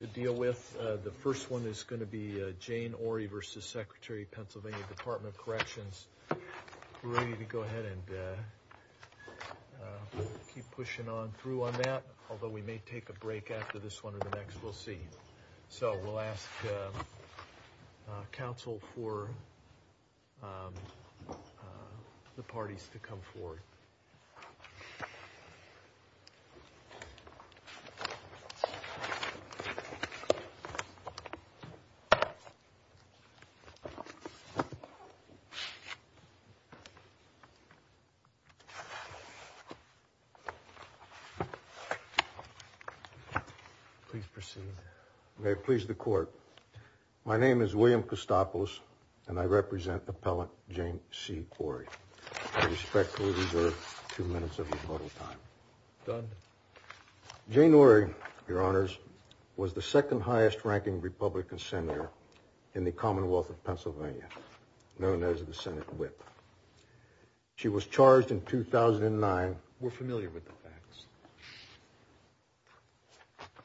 to deal with. The first one is going to be Jane Orie v. Sec PA Department of Corrections. We're ready to go ahead and keep pushing on through on that, although we may take a break after this one or the next, we'll see. So we'll ask counsel for the parties to come forward. Please proceed. May it please the court. My name is William Costopos, and I represent Appellant Jane C. Orie. I respectfully reserve two minutes of rebuttal time. Jane Orie, your honors, was the second highest ranking Republican senator in the Commonwealth of Pennsylvania, known as the Senate whip. She was charged in 2009. We're familiar with the facts.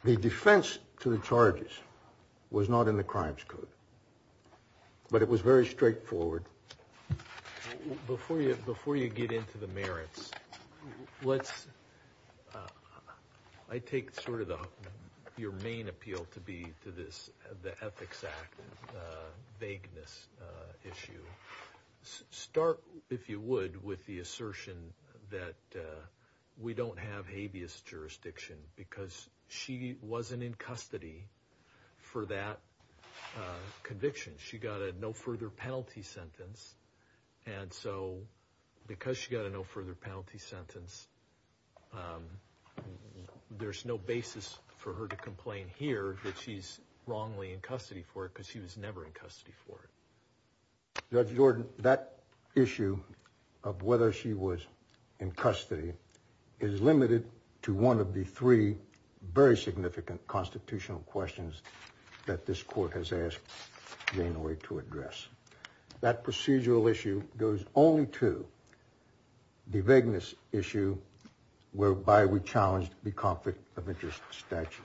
The defense to the charges was not in the crimes code, but it was very straightforward. Before you before you get into the merits, let's I take sort of your main appeal to be to this. The Ethics Act vagueness issue. Start, if you would, with the assertion that we don't have habeas jurisdiction because she wasn't in custody for that conviction. She got a no further penalty sentence. And so because she got a no further penalty sentence, there's no basis for her to complain here that she's wrongly in custody for it because she was never in custody for it. Judge Jordan, that issue of whether she was in custody is limited to one of the three very significant constitutional questions that this court has asked Jane Orie to address. That procedural issue goes only to the vagueness issue whereby we challenged the conflict of interest statute.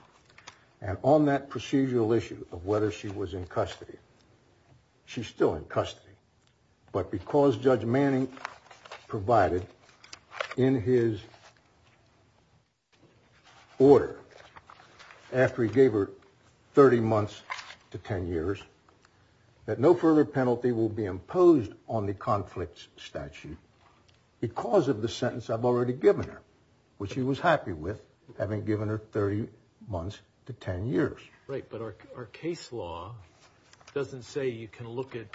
And on that procedural issue of whether she was in custody, she's still in custody. But because Judge Manning provided in his order after he gave her 30 months to 10 years, that no further penalty will be imposed on the conflict statute because of the sentence I've already given her, which he was happy with, having given her 30 months to 10 years. Right. But our case law doesn't say you can look at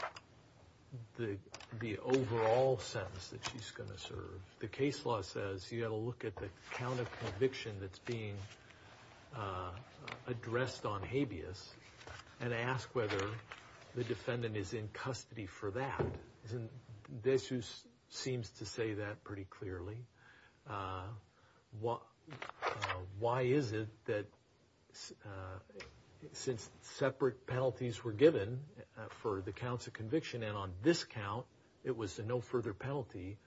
the overall sentence that she's going to serve. The case law says you got to look at the count of conviction that's being addressed on habeas and ask whether the defendant is in custody for that. Isn't this who seems to say that pretty clearly? What? Why is it that since separate penalties were given for the counts of conviction and on this count, it was a no further penalty.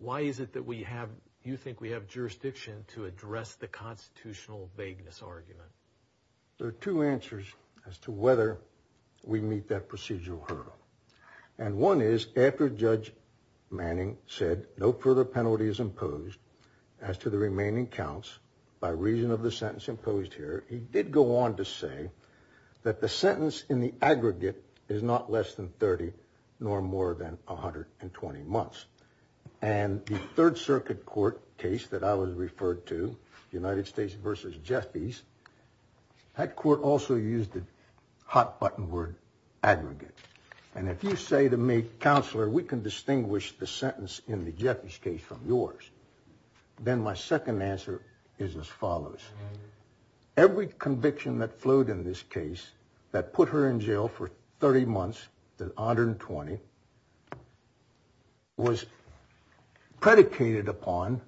Why is it that we have you think we have jurisdiction to address the constitutional vagueness argument? There are two answers as to whether we meet that procedural hurdle. And one is after Judge Manning said no further penalty is imposed as to the remaining counts by reason of the sentence imposed here. He did go on to say that the sentence in the aggregate is not less than 30, nor more than 120 months. And the Third Circuit court case that I was referred to, United States versus Jeffries. That court also used the hot button word aggregate. And if you say to me, counselor, we can distinguish the sentence in the Jeffries case from yours, then my second answer is as follows. Every conviction that flowed in this case that put her in jail for 30 months, the 120. Was predicated upon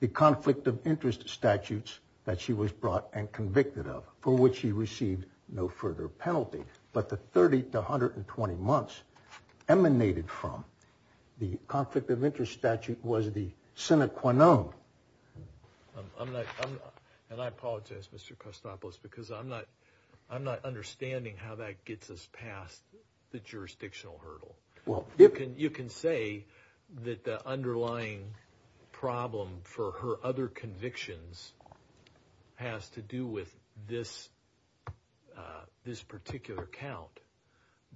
the conflict of interest statutes that she was brought and convicted of, for which she received no further penalty. But the 30 to 120 months emanated from the conflict of interest statute was the Senate Quenon. I'm not and I apologize, Mr. Costopoulos, because I'm not I'm not understanding how that gets us past the jurisdictional hurdle. Well, you can you can say that the underlying problem for her other convictions has to do with this, this particular account.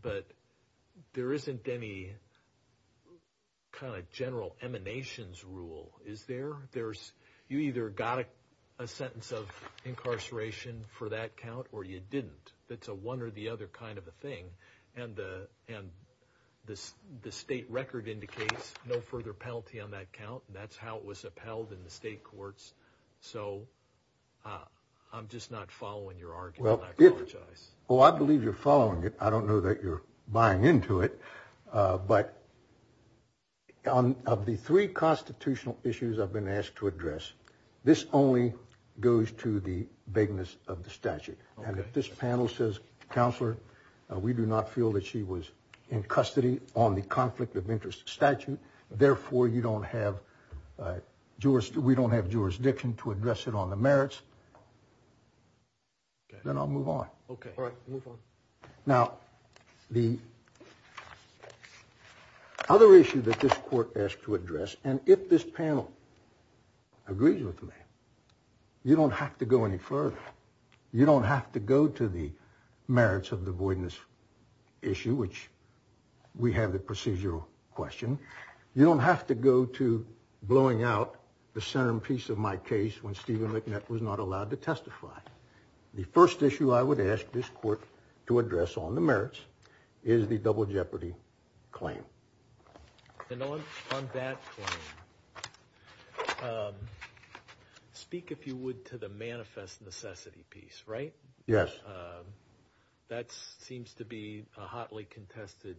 But there isn't any kind of general emanations rule, is there? There's you either got a sentence of incarceration for that count or you didn't. That's a one or the other kind of a thing. And the and this the state record indicates no further penalty on that count. That's how it was upheld in the state courts. So I'm just not following your argument. Well, I believe you're following it. I don't know that you're buying into it, but. On of the three constitutional issues I've been asked to address, this only goes to the vagueness of the statute. And if this panel says, counselor, we do not feel that she was in custody on the conflict of interest statute. Therefore, you don't have Jewish. We don't have jurisdiction to address it on the merits. Then I'll move on. OK. All right. Now, the other issue that this court asked to address. And if this panel agrees with me, you don't have to go any further. You don't have to go to the merits of the voidness issue, which we have the procedural question. You don't have to go to blowing out the centerpiece of my case when Stephen McNett was not allowed to testify. The first issue I would ask this court to address on the merits is the double jeopardy claim. And on that. Speak, if you would, to the manifest necessity piece, right? Yes. That seems to be a hotly contested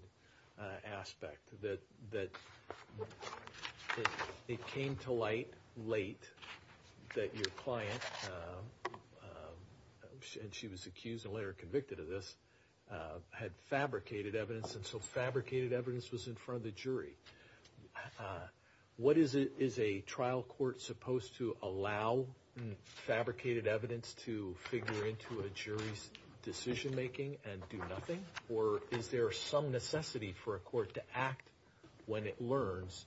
aspect that that it came to light late that your client. And she was accused and later convicted of this, had fabricated evidence. And so fabricated evidence was in front of the jury. What is it? Is a trial court supposed to allow fabricated evidence to figure into a jury's decision making and do nothing? Or is there some necessity for a court to act when it learns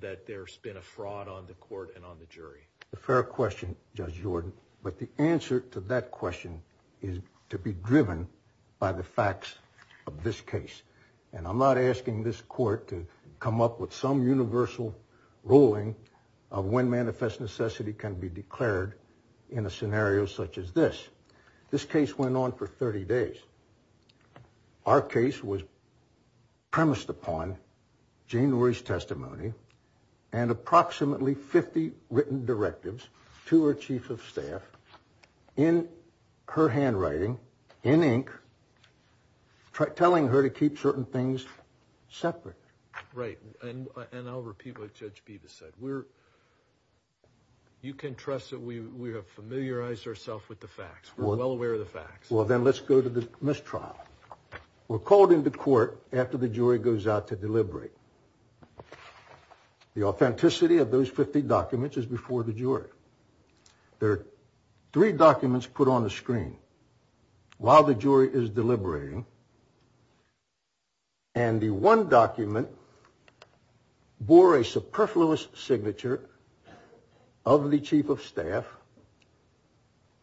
that there's been a fraud on the court and on the jury? The fair question, Judge Jordan. But the answer to that question is to be driven by the facts of this case. And I'm not asking this court to come up with some universal ruling of when manifest necessity can be declared in a scenario such as this. This case went on for 30 days. Our case was. Premised upon January's testimony and approximately 50 written directives to our chief of staff in her handwriting in ink. Try telling her to keep certain things separate. Right. And I'll repeat what Judge Beavis said. We're. You can trust that we have familiarized ourself with the facts. Well, then let's go to the mistrial. We're called into court after the jury goes out to deliberate. The authenticity of those 50 documents is before the jury. There are three documents put on the screen while the jury is deliberating. And the one document bore a superfluous signature of the chief of staff.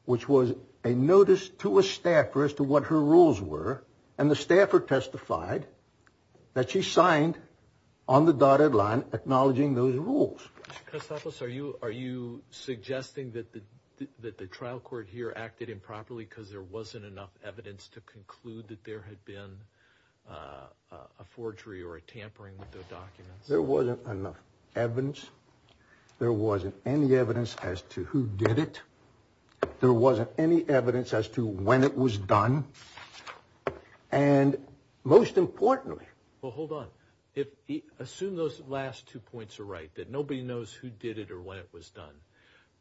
Which was a notice to a staffer as to what her rules were. And the staffer testified that she signed on the dotted line acknowledging those rules. Are you are you suggesting that the that the trial court here acted improperly because there wasn't enough evidence to conclude that there had been a forgery or a tampering with the documents? There wasn't enough evidence. There wasn't any evidence as to who did it. There wasn't any evidence as to when it was done. And most importantly. Well, hold on. If you assume those last two points are right, that nobody knows who did it or when it was done.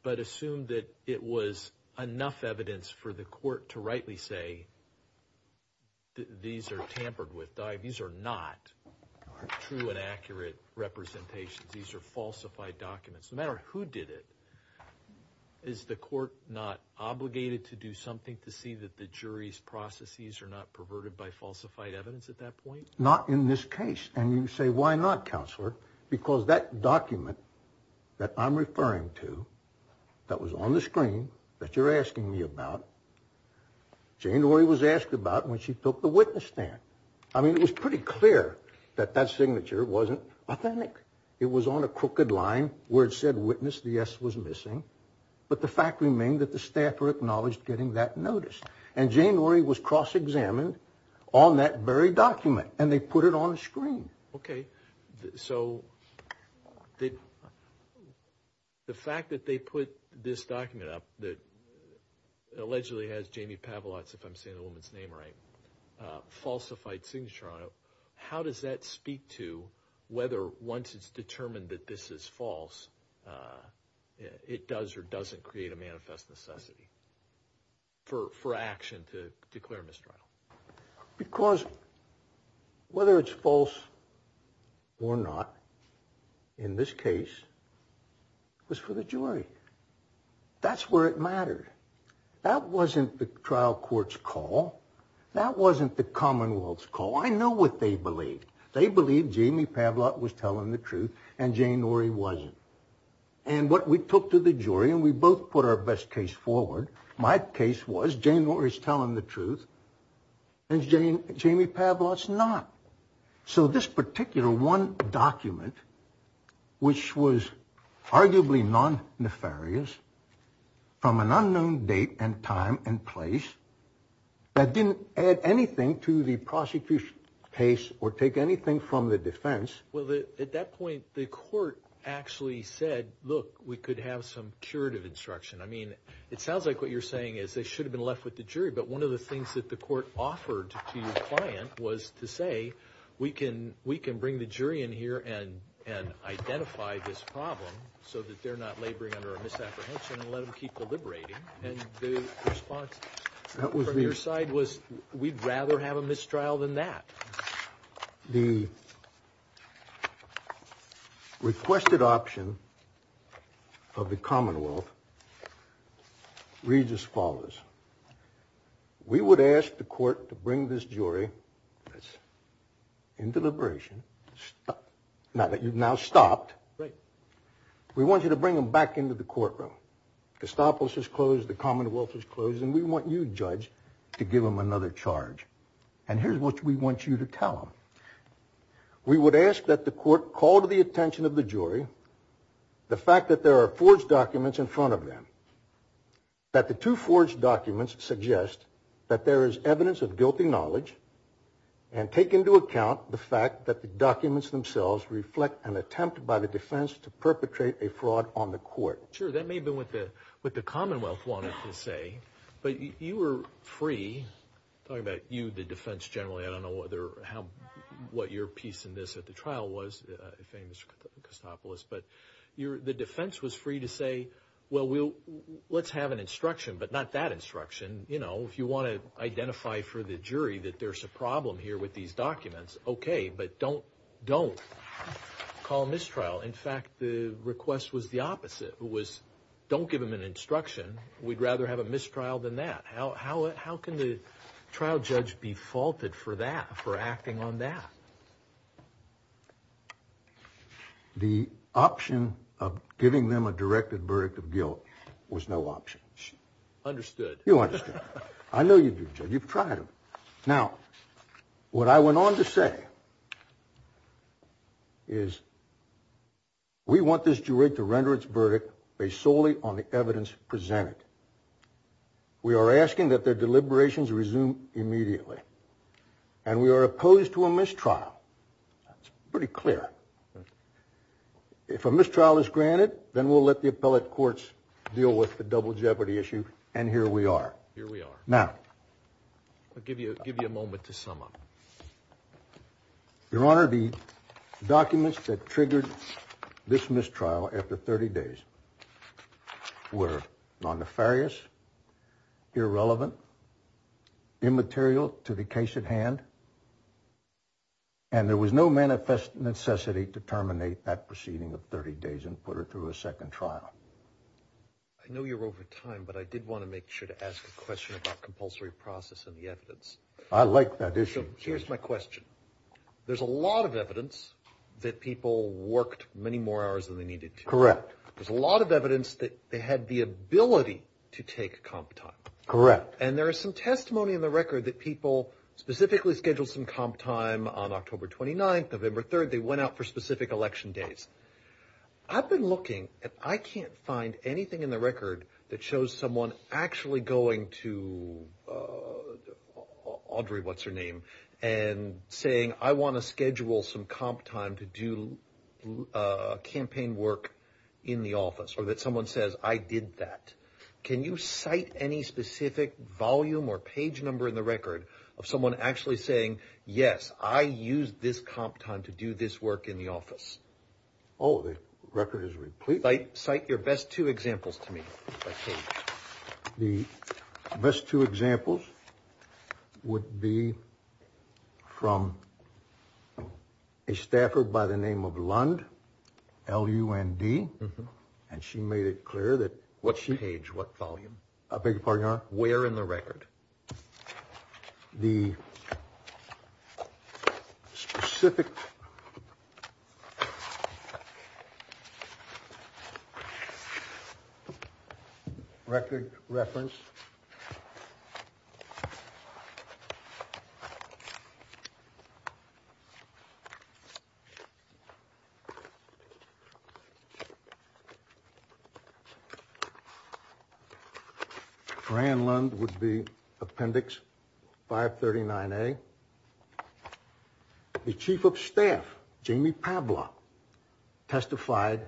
But assume that it was enough evidence for the court to rightly say. These are tampered with. These are not true and accurate representations. These are falsified documents. No matter who did it. Is the court not obligated to do something to see that the jury's processes are not perverted by falsified evidence at that point? Not in this case. And you say, why not, counselor? Because that document that I'm referring to that was on the screen that you're asking me about. January was asked about when she took the witness stand. I mean, it was pretty clear that that signature wasn't authentic. It was on a crooked line where it said witness. The S was missing. But the fact remained that the staffer acknowledged getting that notice. And January was cross-examined on that very document and they put it on the screen. OK. So the fact that they put this document up that allegedly has Jamie Pavlots, if I'm saying the woman's name right, falsified signature on it. How does that speak to whether once it's determined that this is false, it does or doesn't create a manifest necessity? For for action to declare mistrial because. Whether it's false. Or not. In this case. Was for the jury. That's where it mattered. That wasn't the trial court's call. That wasn't the Commonwealth's call. I know what they believe. They believe Jamie Pavlots was telling the truth and Jane or he wasn't. And what we took to the jury and we both put our best case forward. My case was Jane or is telling the truth. And Jane, Jamie Pavlots not. So this particular one document. Which was arguably non nefarious. From an unknown date and time and place. That didn't add anything to the prosecution case or take anything from the defense. Well, at that point, the court actually said, look, we could have some curative instruction. I mean, it sounds like what you're saying is they should have been left with the jury. But one of the things that the court offered to the client was to say, we can we can bring the jury in here and and identify this problem. So that they're not laboring under a misapprehension and let them keep deliberating. And the response that was on your side was we'd rather have a mistrial than that. The requested option of the Commonwealth reads as follows. We would ask the court to bring this jury into liberation. Now that you've now stopped. We want you to bring them back into the courtroom. The commonwealth is closed and we want you judge to give them another charge. And here's what we want you to tell them. We would ask that the court call to the attention of the jury. The fact that there are forged documents in front of them. That the two forged documents suggest that there is evidence of guilty knowledge. And take into account the fact that the documents themselves reflect an attempt by the defense to perpetrate a fraud on the court. Sure, that may have been what the Commonwealth wanted to say. But you were free. Talking about you, the defense generally. I don't know what your piece in this at the trial was. But the defense was free to say, well, let's have an instruction. But not that instruction. You know, if you want to identify for the jury that there's a problem here with these documents. Okay, but don't call mistrial. In fact, the request was the opposite. It was, don't give them an instruction. We'd rather have a mistrial than that. How can the trial judge be faulted for that, for acting on that? The option of giving them a directed verdict of guilt was no option. Understood. You understood. I know you do, Judge. You've tried them. Now, what I went on to say is we want this jury to render its verdict based solely on the evidence presented. We are asking that their deliberations resume immediately. And we are opposed to a mistrial. That's pretty clear. If a mistrial is granted, then we'll let the appellate courts deal with the double jeopardy issue. And here we are. Here we are. Now, I'll give you a moment to sum up. Your Honor, the documents that triggered this mistrial after 30 days were non-nefarious, irrelevant, immaterial to the case at hand, and there was no manifest necessity to terminate that proceeding of 30 days and put her through a second trial. I know you're over time, but I did want to make sure to ask a question about compulsory process and the evidence. I like that issue. So here's my question. There's a lot of evidence that people worked many more hours than they needed to. Correct. There's a lot of evidence that they had the ability to take comp time. Correct. And there is some testimony in the record that people specifically scheduled some comp time on October 29th, November 3rd. They went out for specific election days. I've been looking, and I can't find anything in the record that shows someone actually going to Audrey, what's her name, and saying, I want to schedule some comp time to do campaign work in the office, or that someone says, I did that. Can you cite any specific volume or page number in the record of someone actually saying, yes, I used this comp time to do this work in the office? Oh, the record is replete. Cite your best two examples to me. The best two examples would be from a staffer by the name of Lund, L-U-N-D. And she made it clear that what page, what volume, where in the record. The specific record reference. Rand Lund would be Appendix 539A. The chief of staff, Jamie Pabla, testified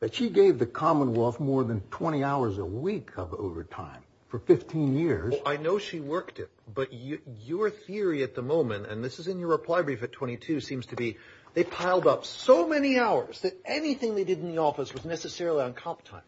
that she gave the Commonwealth more than 20 hours a week of overtime for 15 years. I know she worked it. But your theory at the moment, and this is in your reply brief at 22, seems to be they piled up so many hours that anything they did in the office was necessarily on comp time.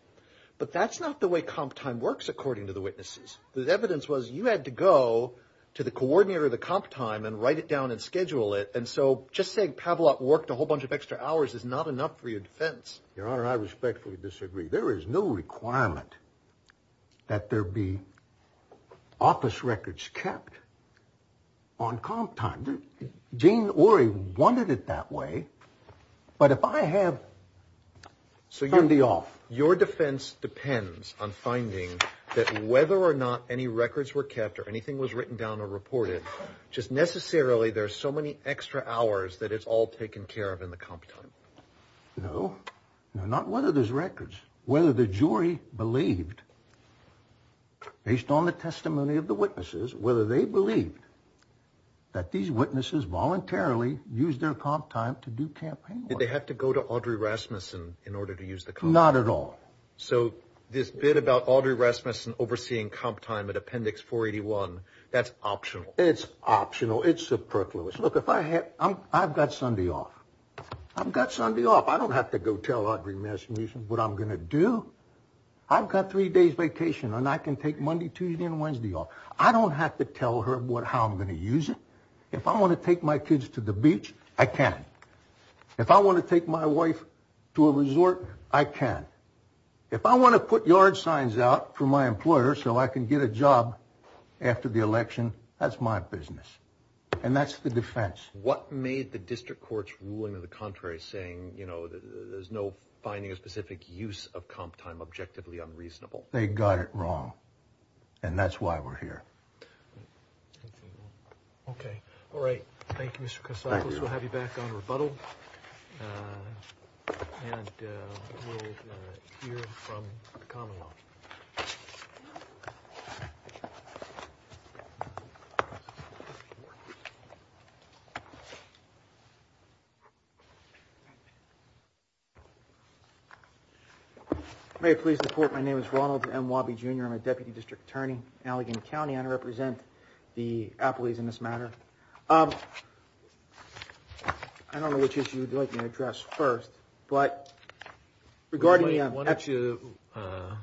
But that's not the way comp time works, according to the witnesses. The evidence was you had to go to the coordinator of the comp time and write it down and schedule it. And so just saying Pavlov worked a whole bunch of extra hours is not enough for your defense. Your Honor, I respectfully disagree. There is no requirement that there be office records kept on comp time. Jane Orrey wanted it that way. But if I have... Your defense depends on finding that whether or not any records were kept or anything was written down or reported, just necessarily there's so many extra hours that it's all taken care of in the comp time. No. Not whether there's records. Whether the jury believed, based on the testimony of the witnesses, whether they believed that these witnesses voluntarily used their comp time to do campaign work. Did they have to go to Audrey Rasmussen in order to use the comp time? Not at all. So this bit about Audrey Rasmussen overseeing comp time at Appendix 481, that's optional? It's optional. It's superfluous. Look, if I had... I've got Sunday off. I've got Sunday off. I don't have to go tell Audrey Rasmussen what I'm going to do. I've got three days vacation and I can take Monday, Tuesday, and Wednesday off. I don't have to tell her how I'm going to use it. If I want to take my kids to the beach, I can. If I want to take my wife to a resort, I can. If I want to put yard signs out for my employer so I can get a job after the election, that's my business. And that's the defense. What made the district court's ruling to the contrary saying, you know, there's no finding a specific use of comp time objectively unreasonable? They got it wrong, and that's why we're here. Okay. All right. Thank you, Mr. Kasatos. We'll have you back on rebuttal. And we'll hear from the Commonwealth. May it please the court, my name is Ronald M. Wabi, Jr. I'm a deputy district attorney in Allegan County. I represent the appellees in this matter. Okay. I don't know which issue you'd like me to address first. But regarding the actual ‑‑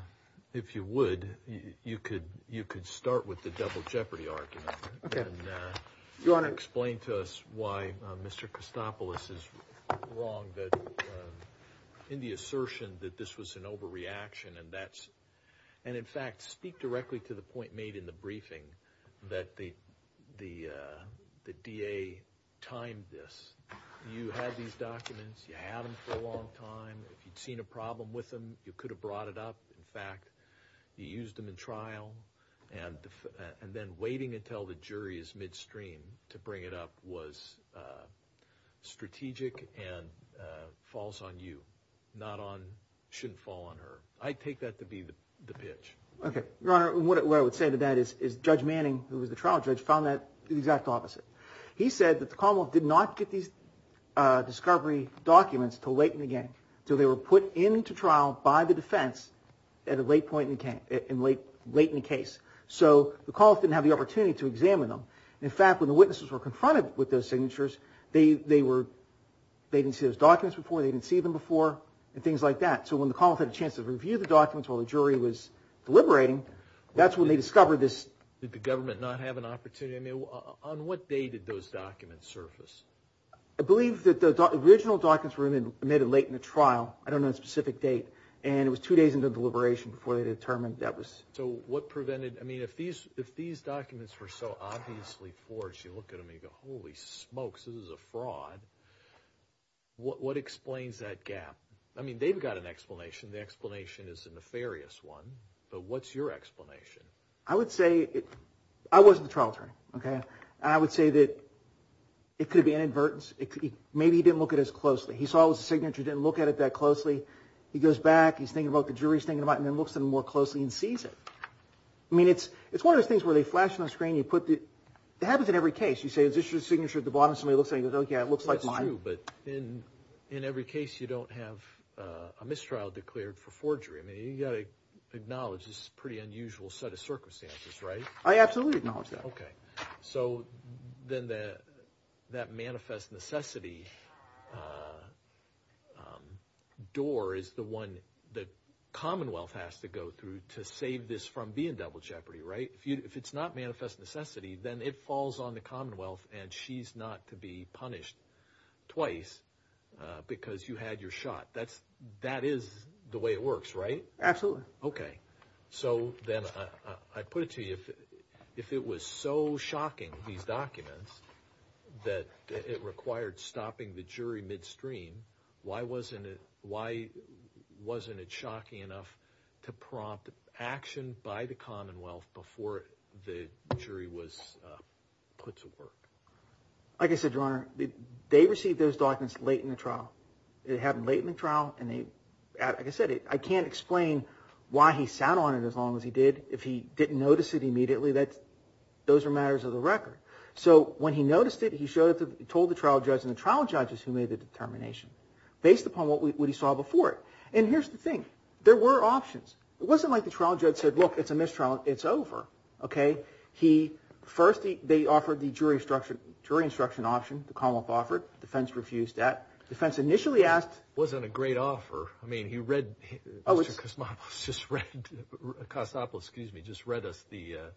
If you would, you could start with the double jeopardy argument. Okay. You want to explain to us why Mr. Kasatos is wrong in the assertion that this was an overreaction, and in fact, speak directly to the point made in the briefing that the DA timed this. You had these documents. You had them for a long time. If you'd seen a problem with them, you could have brought it up. In fact, you used them in trial. And then waiting until the jury is midstream to bring it up was strategic and falls on you, not on ‑‑ shouldn't fall on her. I take that to be the pitch. Okay. Your Honor, what I would say to that is Judge Manning, who was the trial judge, found that the exact opposite. He said that the Commonwealth did not get these discovery documents until late in the game. So they were put into trial by the defense at a late point in the case. So the Commonwealth didn't have the opportunity to examine them. In fact, when the witnesses were confronted with those signatures, they didn't see those documents before, they didn't see them before, and things like that. So when the Commonwealth had a chance to review the documents while the jury was deliberating, that's when they discovered this. Did the government not have an opportunity? I mean, on what day did those documents surface? I believe that the original documents were made late in the trial. I don't know the specific date. And it was two days into the deliberation before they determined that was ‑‑ So what prevented ‑‑ I mean, if these documents were so obviously forged, you look at them and you go, holy smokes, this is a fraud, what explains that gap? I mean, they've got an explanation. The explanation is a nefarious one. But what's your explanation? I would say ‑‑ I wasn't the trial attorney, okay? I would say that it could have been inadvertence. Maybe he didn't look at it as closely. He saw it was a signature, didn't look at it that closely. He goes back, he's thinking about what the jury's thinking about it, and then looks at it more closely and sees it. I mean, it's one of those things where they flash on the screen, you put the ‑‑ It happens in every case. You say, is this your signature at the bottom? Somebody looks at it and goes, oh, yeah, it looks like mine. That's true, but in every case you don't have a mistrial declared for forgery. I mean, you've got to acknowledge this is a pretty unusual set of circumstances, right? I absolutely acknowledge that. Okay. So then that manifest necessity door is the one the Commonwealth has to go through to save this from being double jeopardy, right? And she's not to be punished twice because you had your shot. That is the way it works, right? Absolutely. Okay. So then I put it to you, if it was so shocking, these documents, that it required stopping the jury midstream, why wasn't it shocking enough to prompt action by the Commonwealth before the jury was put to work? Like I said, Your Honor, they received those documents late in the trial. It happened late in the trial, and like I said, I can't explain why he sat on it as long as he did. If he didn't notice it immediately, those are matters of the record. So when he noticed it, he told the trial judge, and the trial judge is who made the determination, based upon what he saw before it. And here's the thing. There were options. It wasn't like the trial judge said, look, it's a mistrial. It's over. Okay? First, they offered the jury instruction option the Commonwealth offered. Defense refused that. Defense initially asked. It wasn't a great offer. I mean, he read, Mr. Cosopolis just read us the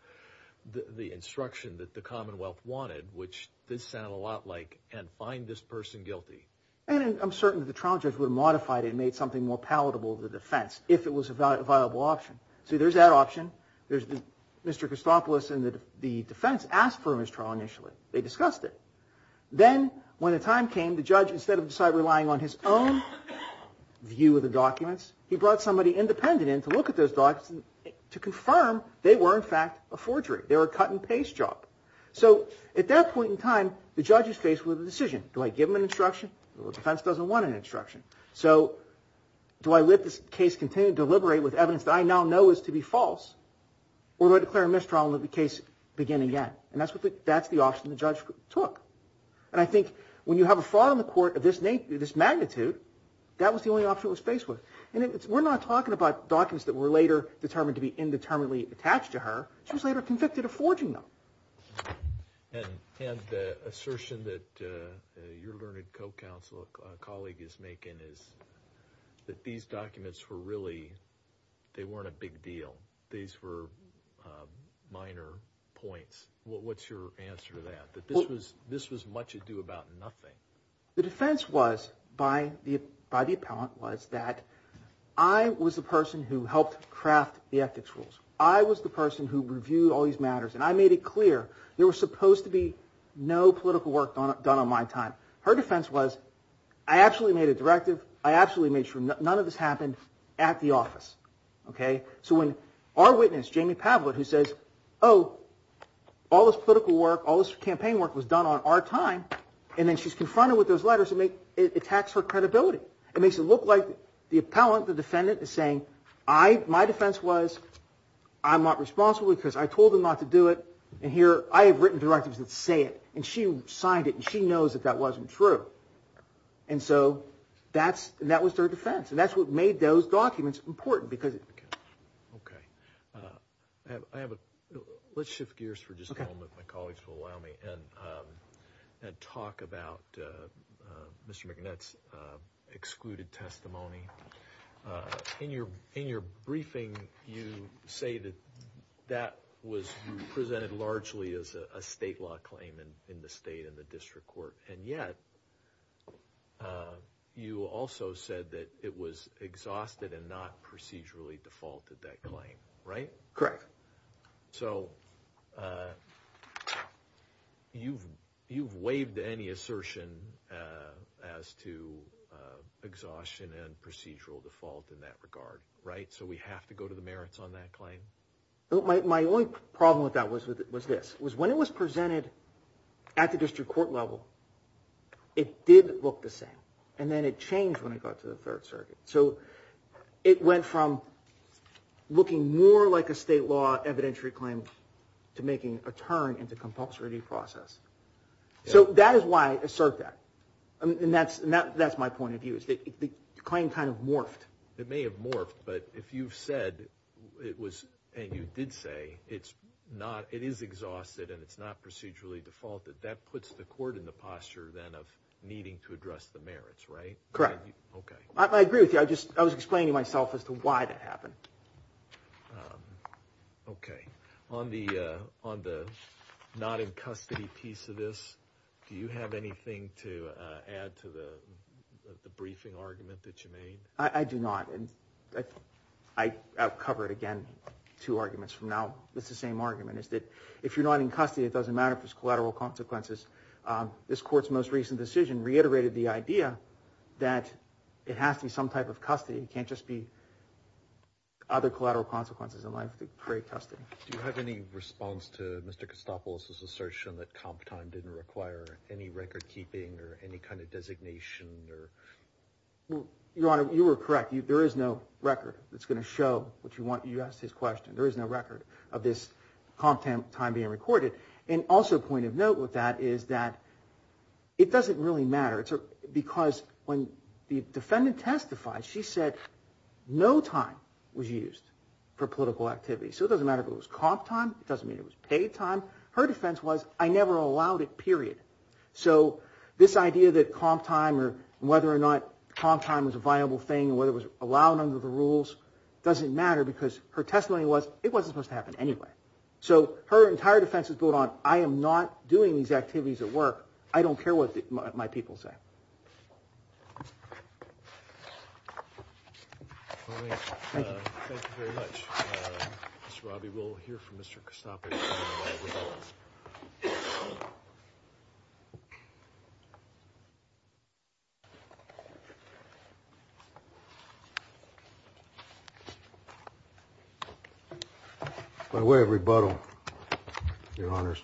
instruction that the Commonwealth wanted, which this sounded a lot like, and find this person guilty. And I'm certain that the trial judge would have modified it and made something more palatable to the defense if it was a viable option. So there's that option. Mr. Cosopolis and the defense asked for a mistrial initially. They discussed it. Then when the time came, the judge, instead of relying on his own view of the documents, he brought somebody independent in to look at those documents to confirm they were, in fact, a forgery. They were a cut-and-paste job. So at that point in time, the judge is faced with a decision. Do I give him an instruction? The defense doesn't want an instruction. So do I let this case continue to deliberate with evidence that I now know is to be false, or do I declare a mistrial and let the case begin again? And that's the option the judge took. And I think when you have a fraud on the court of this magnitude, that was the only option it was faced with. And we're not talking about documents that were later determined to be indeterminately attached to her. She was later convicted of forging them. And the assertion that your learned co-colleague is making is that these documents were really, they weren't a big deal. These were minor points. What's your answer to that, that this was much ado about nothing? The defense was, by the appellant, was that I was the person who helped craft the ethics rules. I was the person who reviewed all these matters. And I made it clear there was supposed to be no political work done on my time. Her defense was, I actually made a directive. I actually made sure none of this happened at the office. So when our witness, Jamie Pavlett, who says, oh, all this political work, all this campaign work was done on our time, and then she's confronted with those letters, it attacks her credibility. It makes it look like the appellant, the defendant, is saying, my defense was I'm not responsible because I told them not to do it. And here I have written directives that say it. And she signed it, and she knows that that wasn't true. And so that was their defense. And that's what made those documents important. Okay. Let's shift gears for just a moment, if my colleagues will allow me, and talk about Mr. McNutt's excluded testimony. In your briefing, you say that that was presented largely as a state law claim in the state and the district court. And yet, you also said that it was exhausted and not procedurally defaulted, that claim. Right? Correct. So you've waived any assertion as to exhaustion and procedural default in that regard, right? So we have to go to the merits on that claim? My only problem with that was this, was when it was presented at the district court level, it did look the same. And then it changed when it got to the Third Circuit. So it went from looking more like a state law evidentiary claim to making a turn into compulsory due process. So that is why I assert that. And that's my point of view, is that the claim kind of morphed. It may have morphed, but if you've said it was, and you did say it's not, it is exhausted and it's not procedurally defaulted, that puts the court in the posture then of needing to address the merits, right? Correct. Okay. I agree with you. I was explaining to myself as to why that happened. Okay. On the not in custody piece of this, do you have anything to add to the briefing argument that you made? I do not. And I'll cover it again, two arguments from now. It's the same argument, is that if you're not in custody, it doesn't matter if there's collateral consequences. This Court's most recent decision reiterated the idea that it has to be some type of custody. It can't just be other collateral consequences in life that create custody. Do you have any response to Mr. Costopoulos' assertion that comp time didn't require any record keeping or any kind of designation? Your Honor, you were correct. There is no record that's going to show what you want. You asked his question. There is no record of this comp time being recorded. And also a point of note with that is that it doesn't really matter. Because when the defendant testified, she said no time was used for political activity. So it doesn't matter if it was comp time. It doesn't mean it was paid time. Her defense was, I never allowed it, period. So this idea that comp time or whether or not comp time was a viable thing or whether it was allowed under the rules doesn't matter because her testimony was, it wasn't supposed to happen anyway. So her entire defense is built on, I am not doing these activities at work. I don't care what my people say. Thank you. Thank you very much. Mr. Robby, we'll hear from Mr. Costopoulos. By way of rebuttal, Your Honors,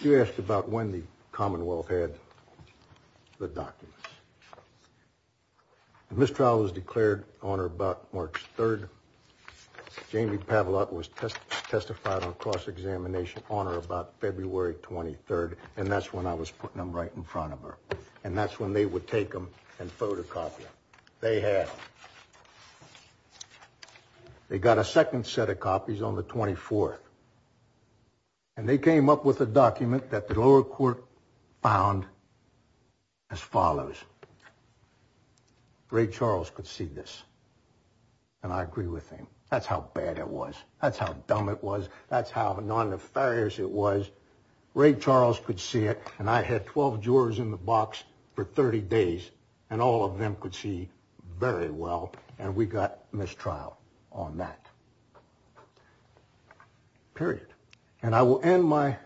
you asked about when the Commonwealth had the documents. The mistrial was declared on or about March 3rd. Jamie Pavlat was testified on cross-examination on or about February 23rd. And that's when I was putting them right in front of her. And that's when they would take them and photocopy them. They had them. They got a second set of copies on the 24th. And they came up with a document that the lower court found as follows. Ray Charles could see this. And I agree with him. That's how bad it was. That's how dumb it was. That's how non-nefarious it was. Ray Charles could see it. And I had 12 jurors in the box for 30 days. And all of them could see very well. And we got mistrial on that. Period. And I will end my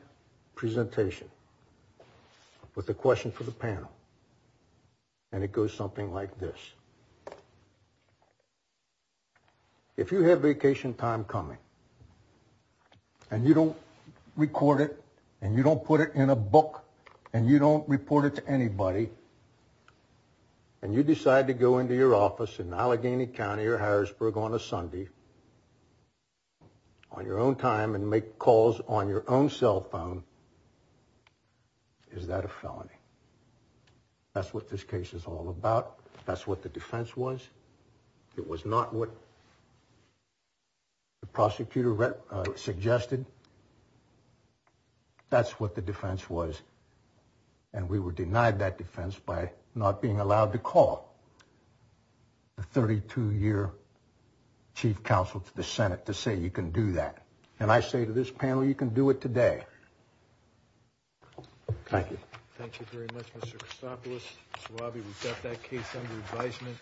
presentation with a question for the panel. And it goes something like this. If you have vacation time coming. And you don't record it. And you don't put it in a book. And you don't report it to anybody. And you decide to go into your office in Allegheny County or Harrisburg on a Sunday. On your own time and make calls on your own cell phone. Is that a felony? That's what this case is all about. That's what the defense was. It was not what the prosecutor suggested. That's what the defense was. And we were denied that defense by not being allowed to call the 32-year chief counsel to the Senate to say you can do that. And I say to this panel, you can do it today. Thank you. Thank you very much, Mr. Christopoulos. Mr. Wabi, we've got that case under advisement.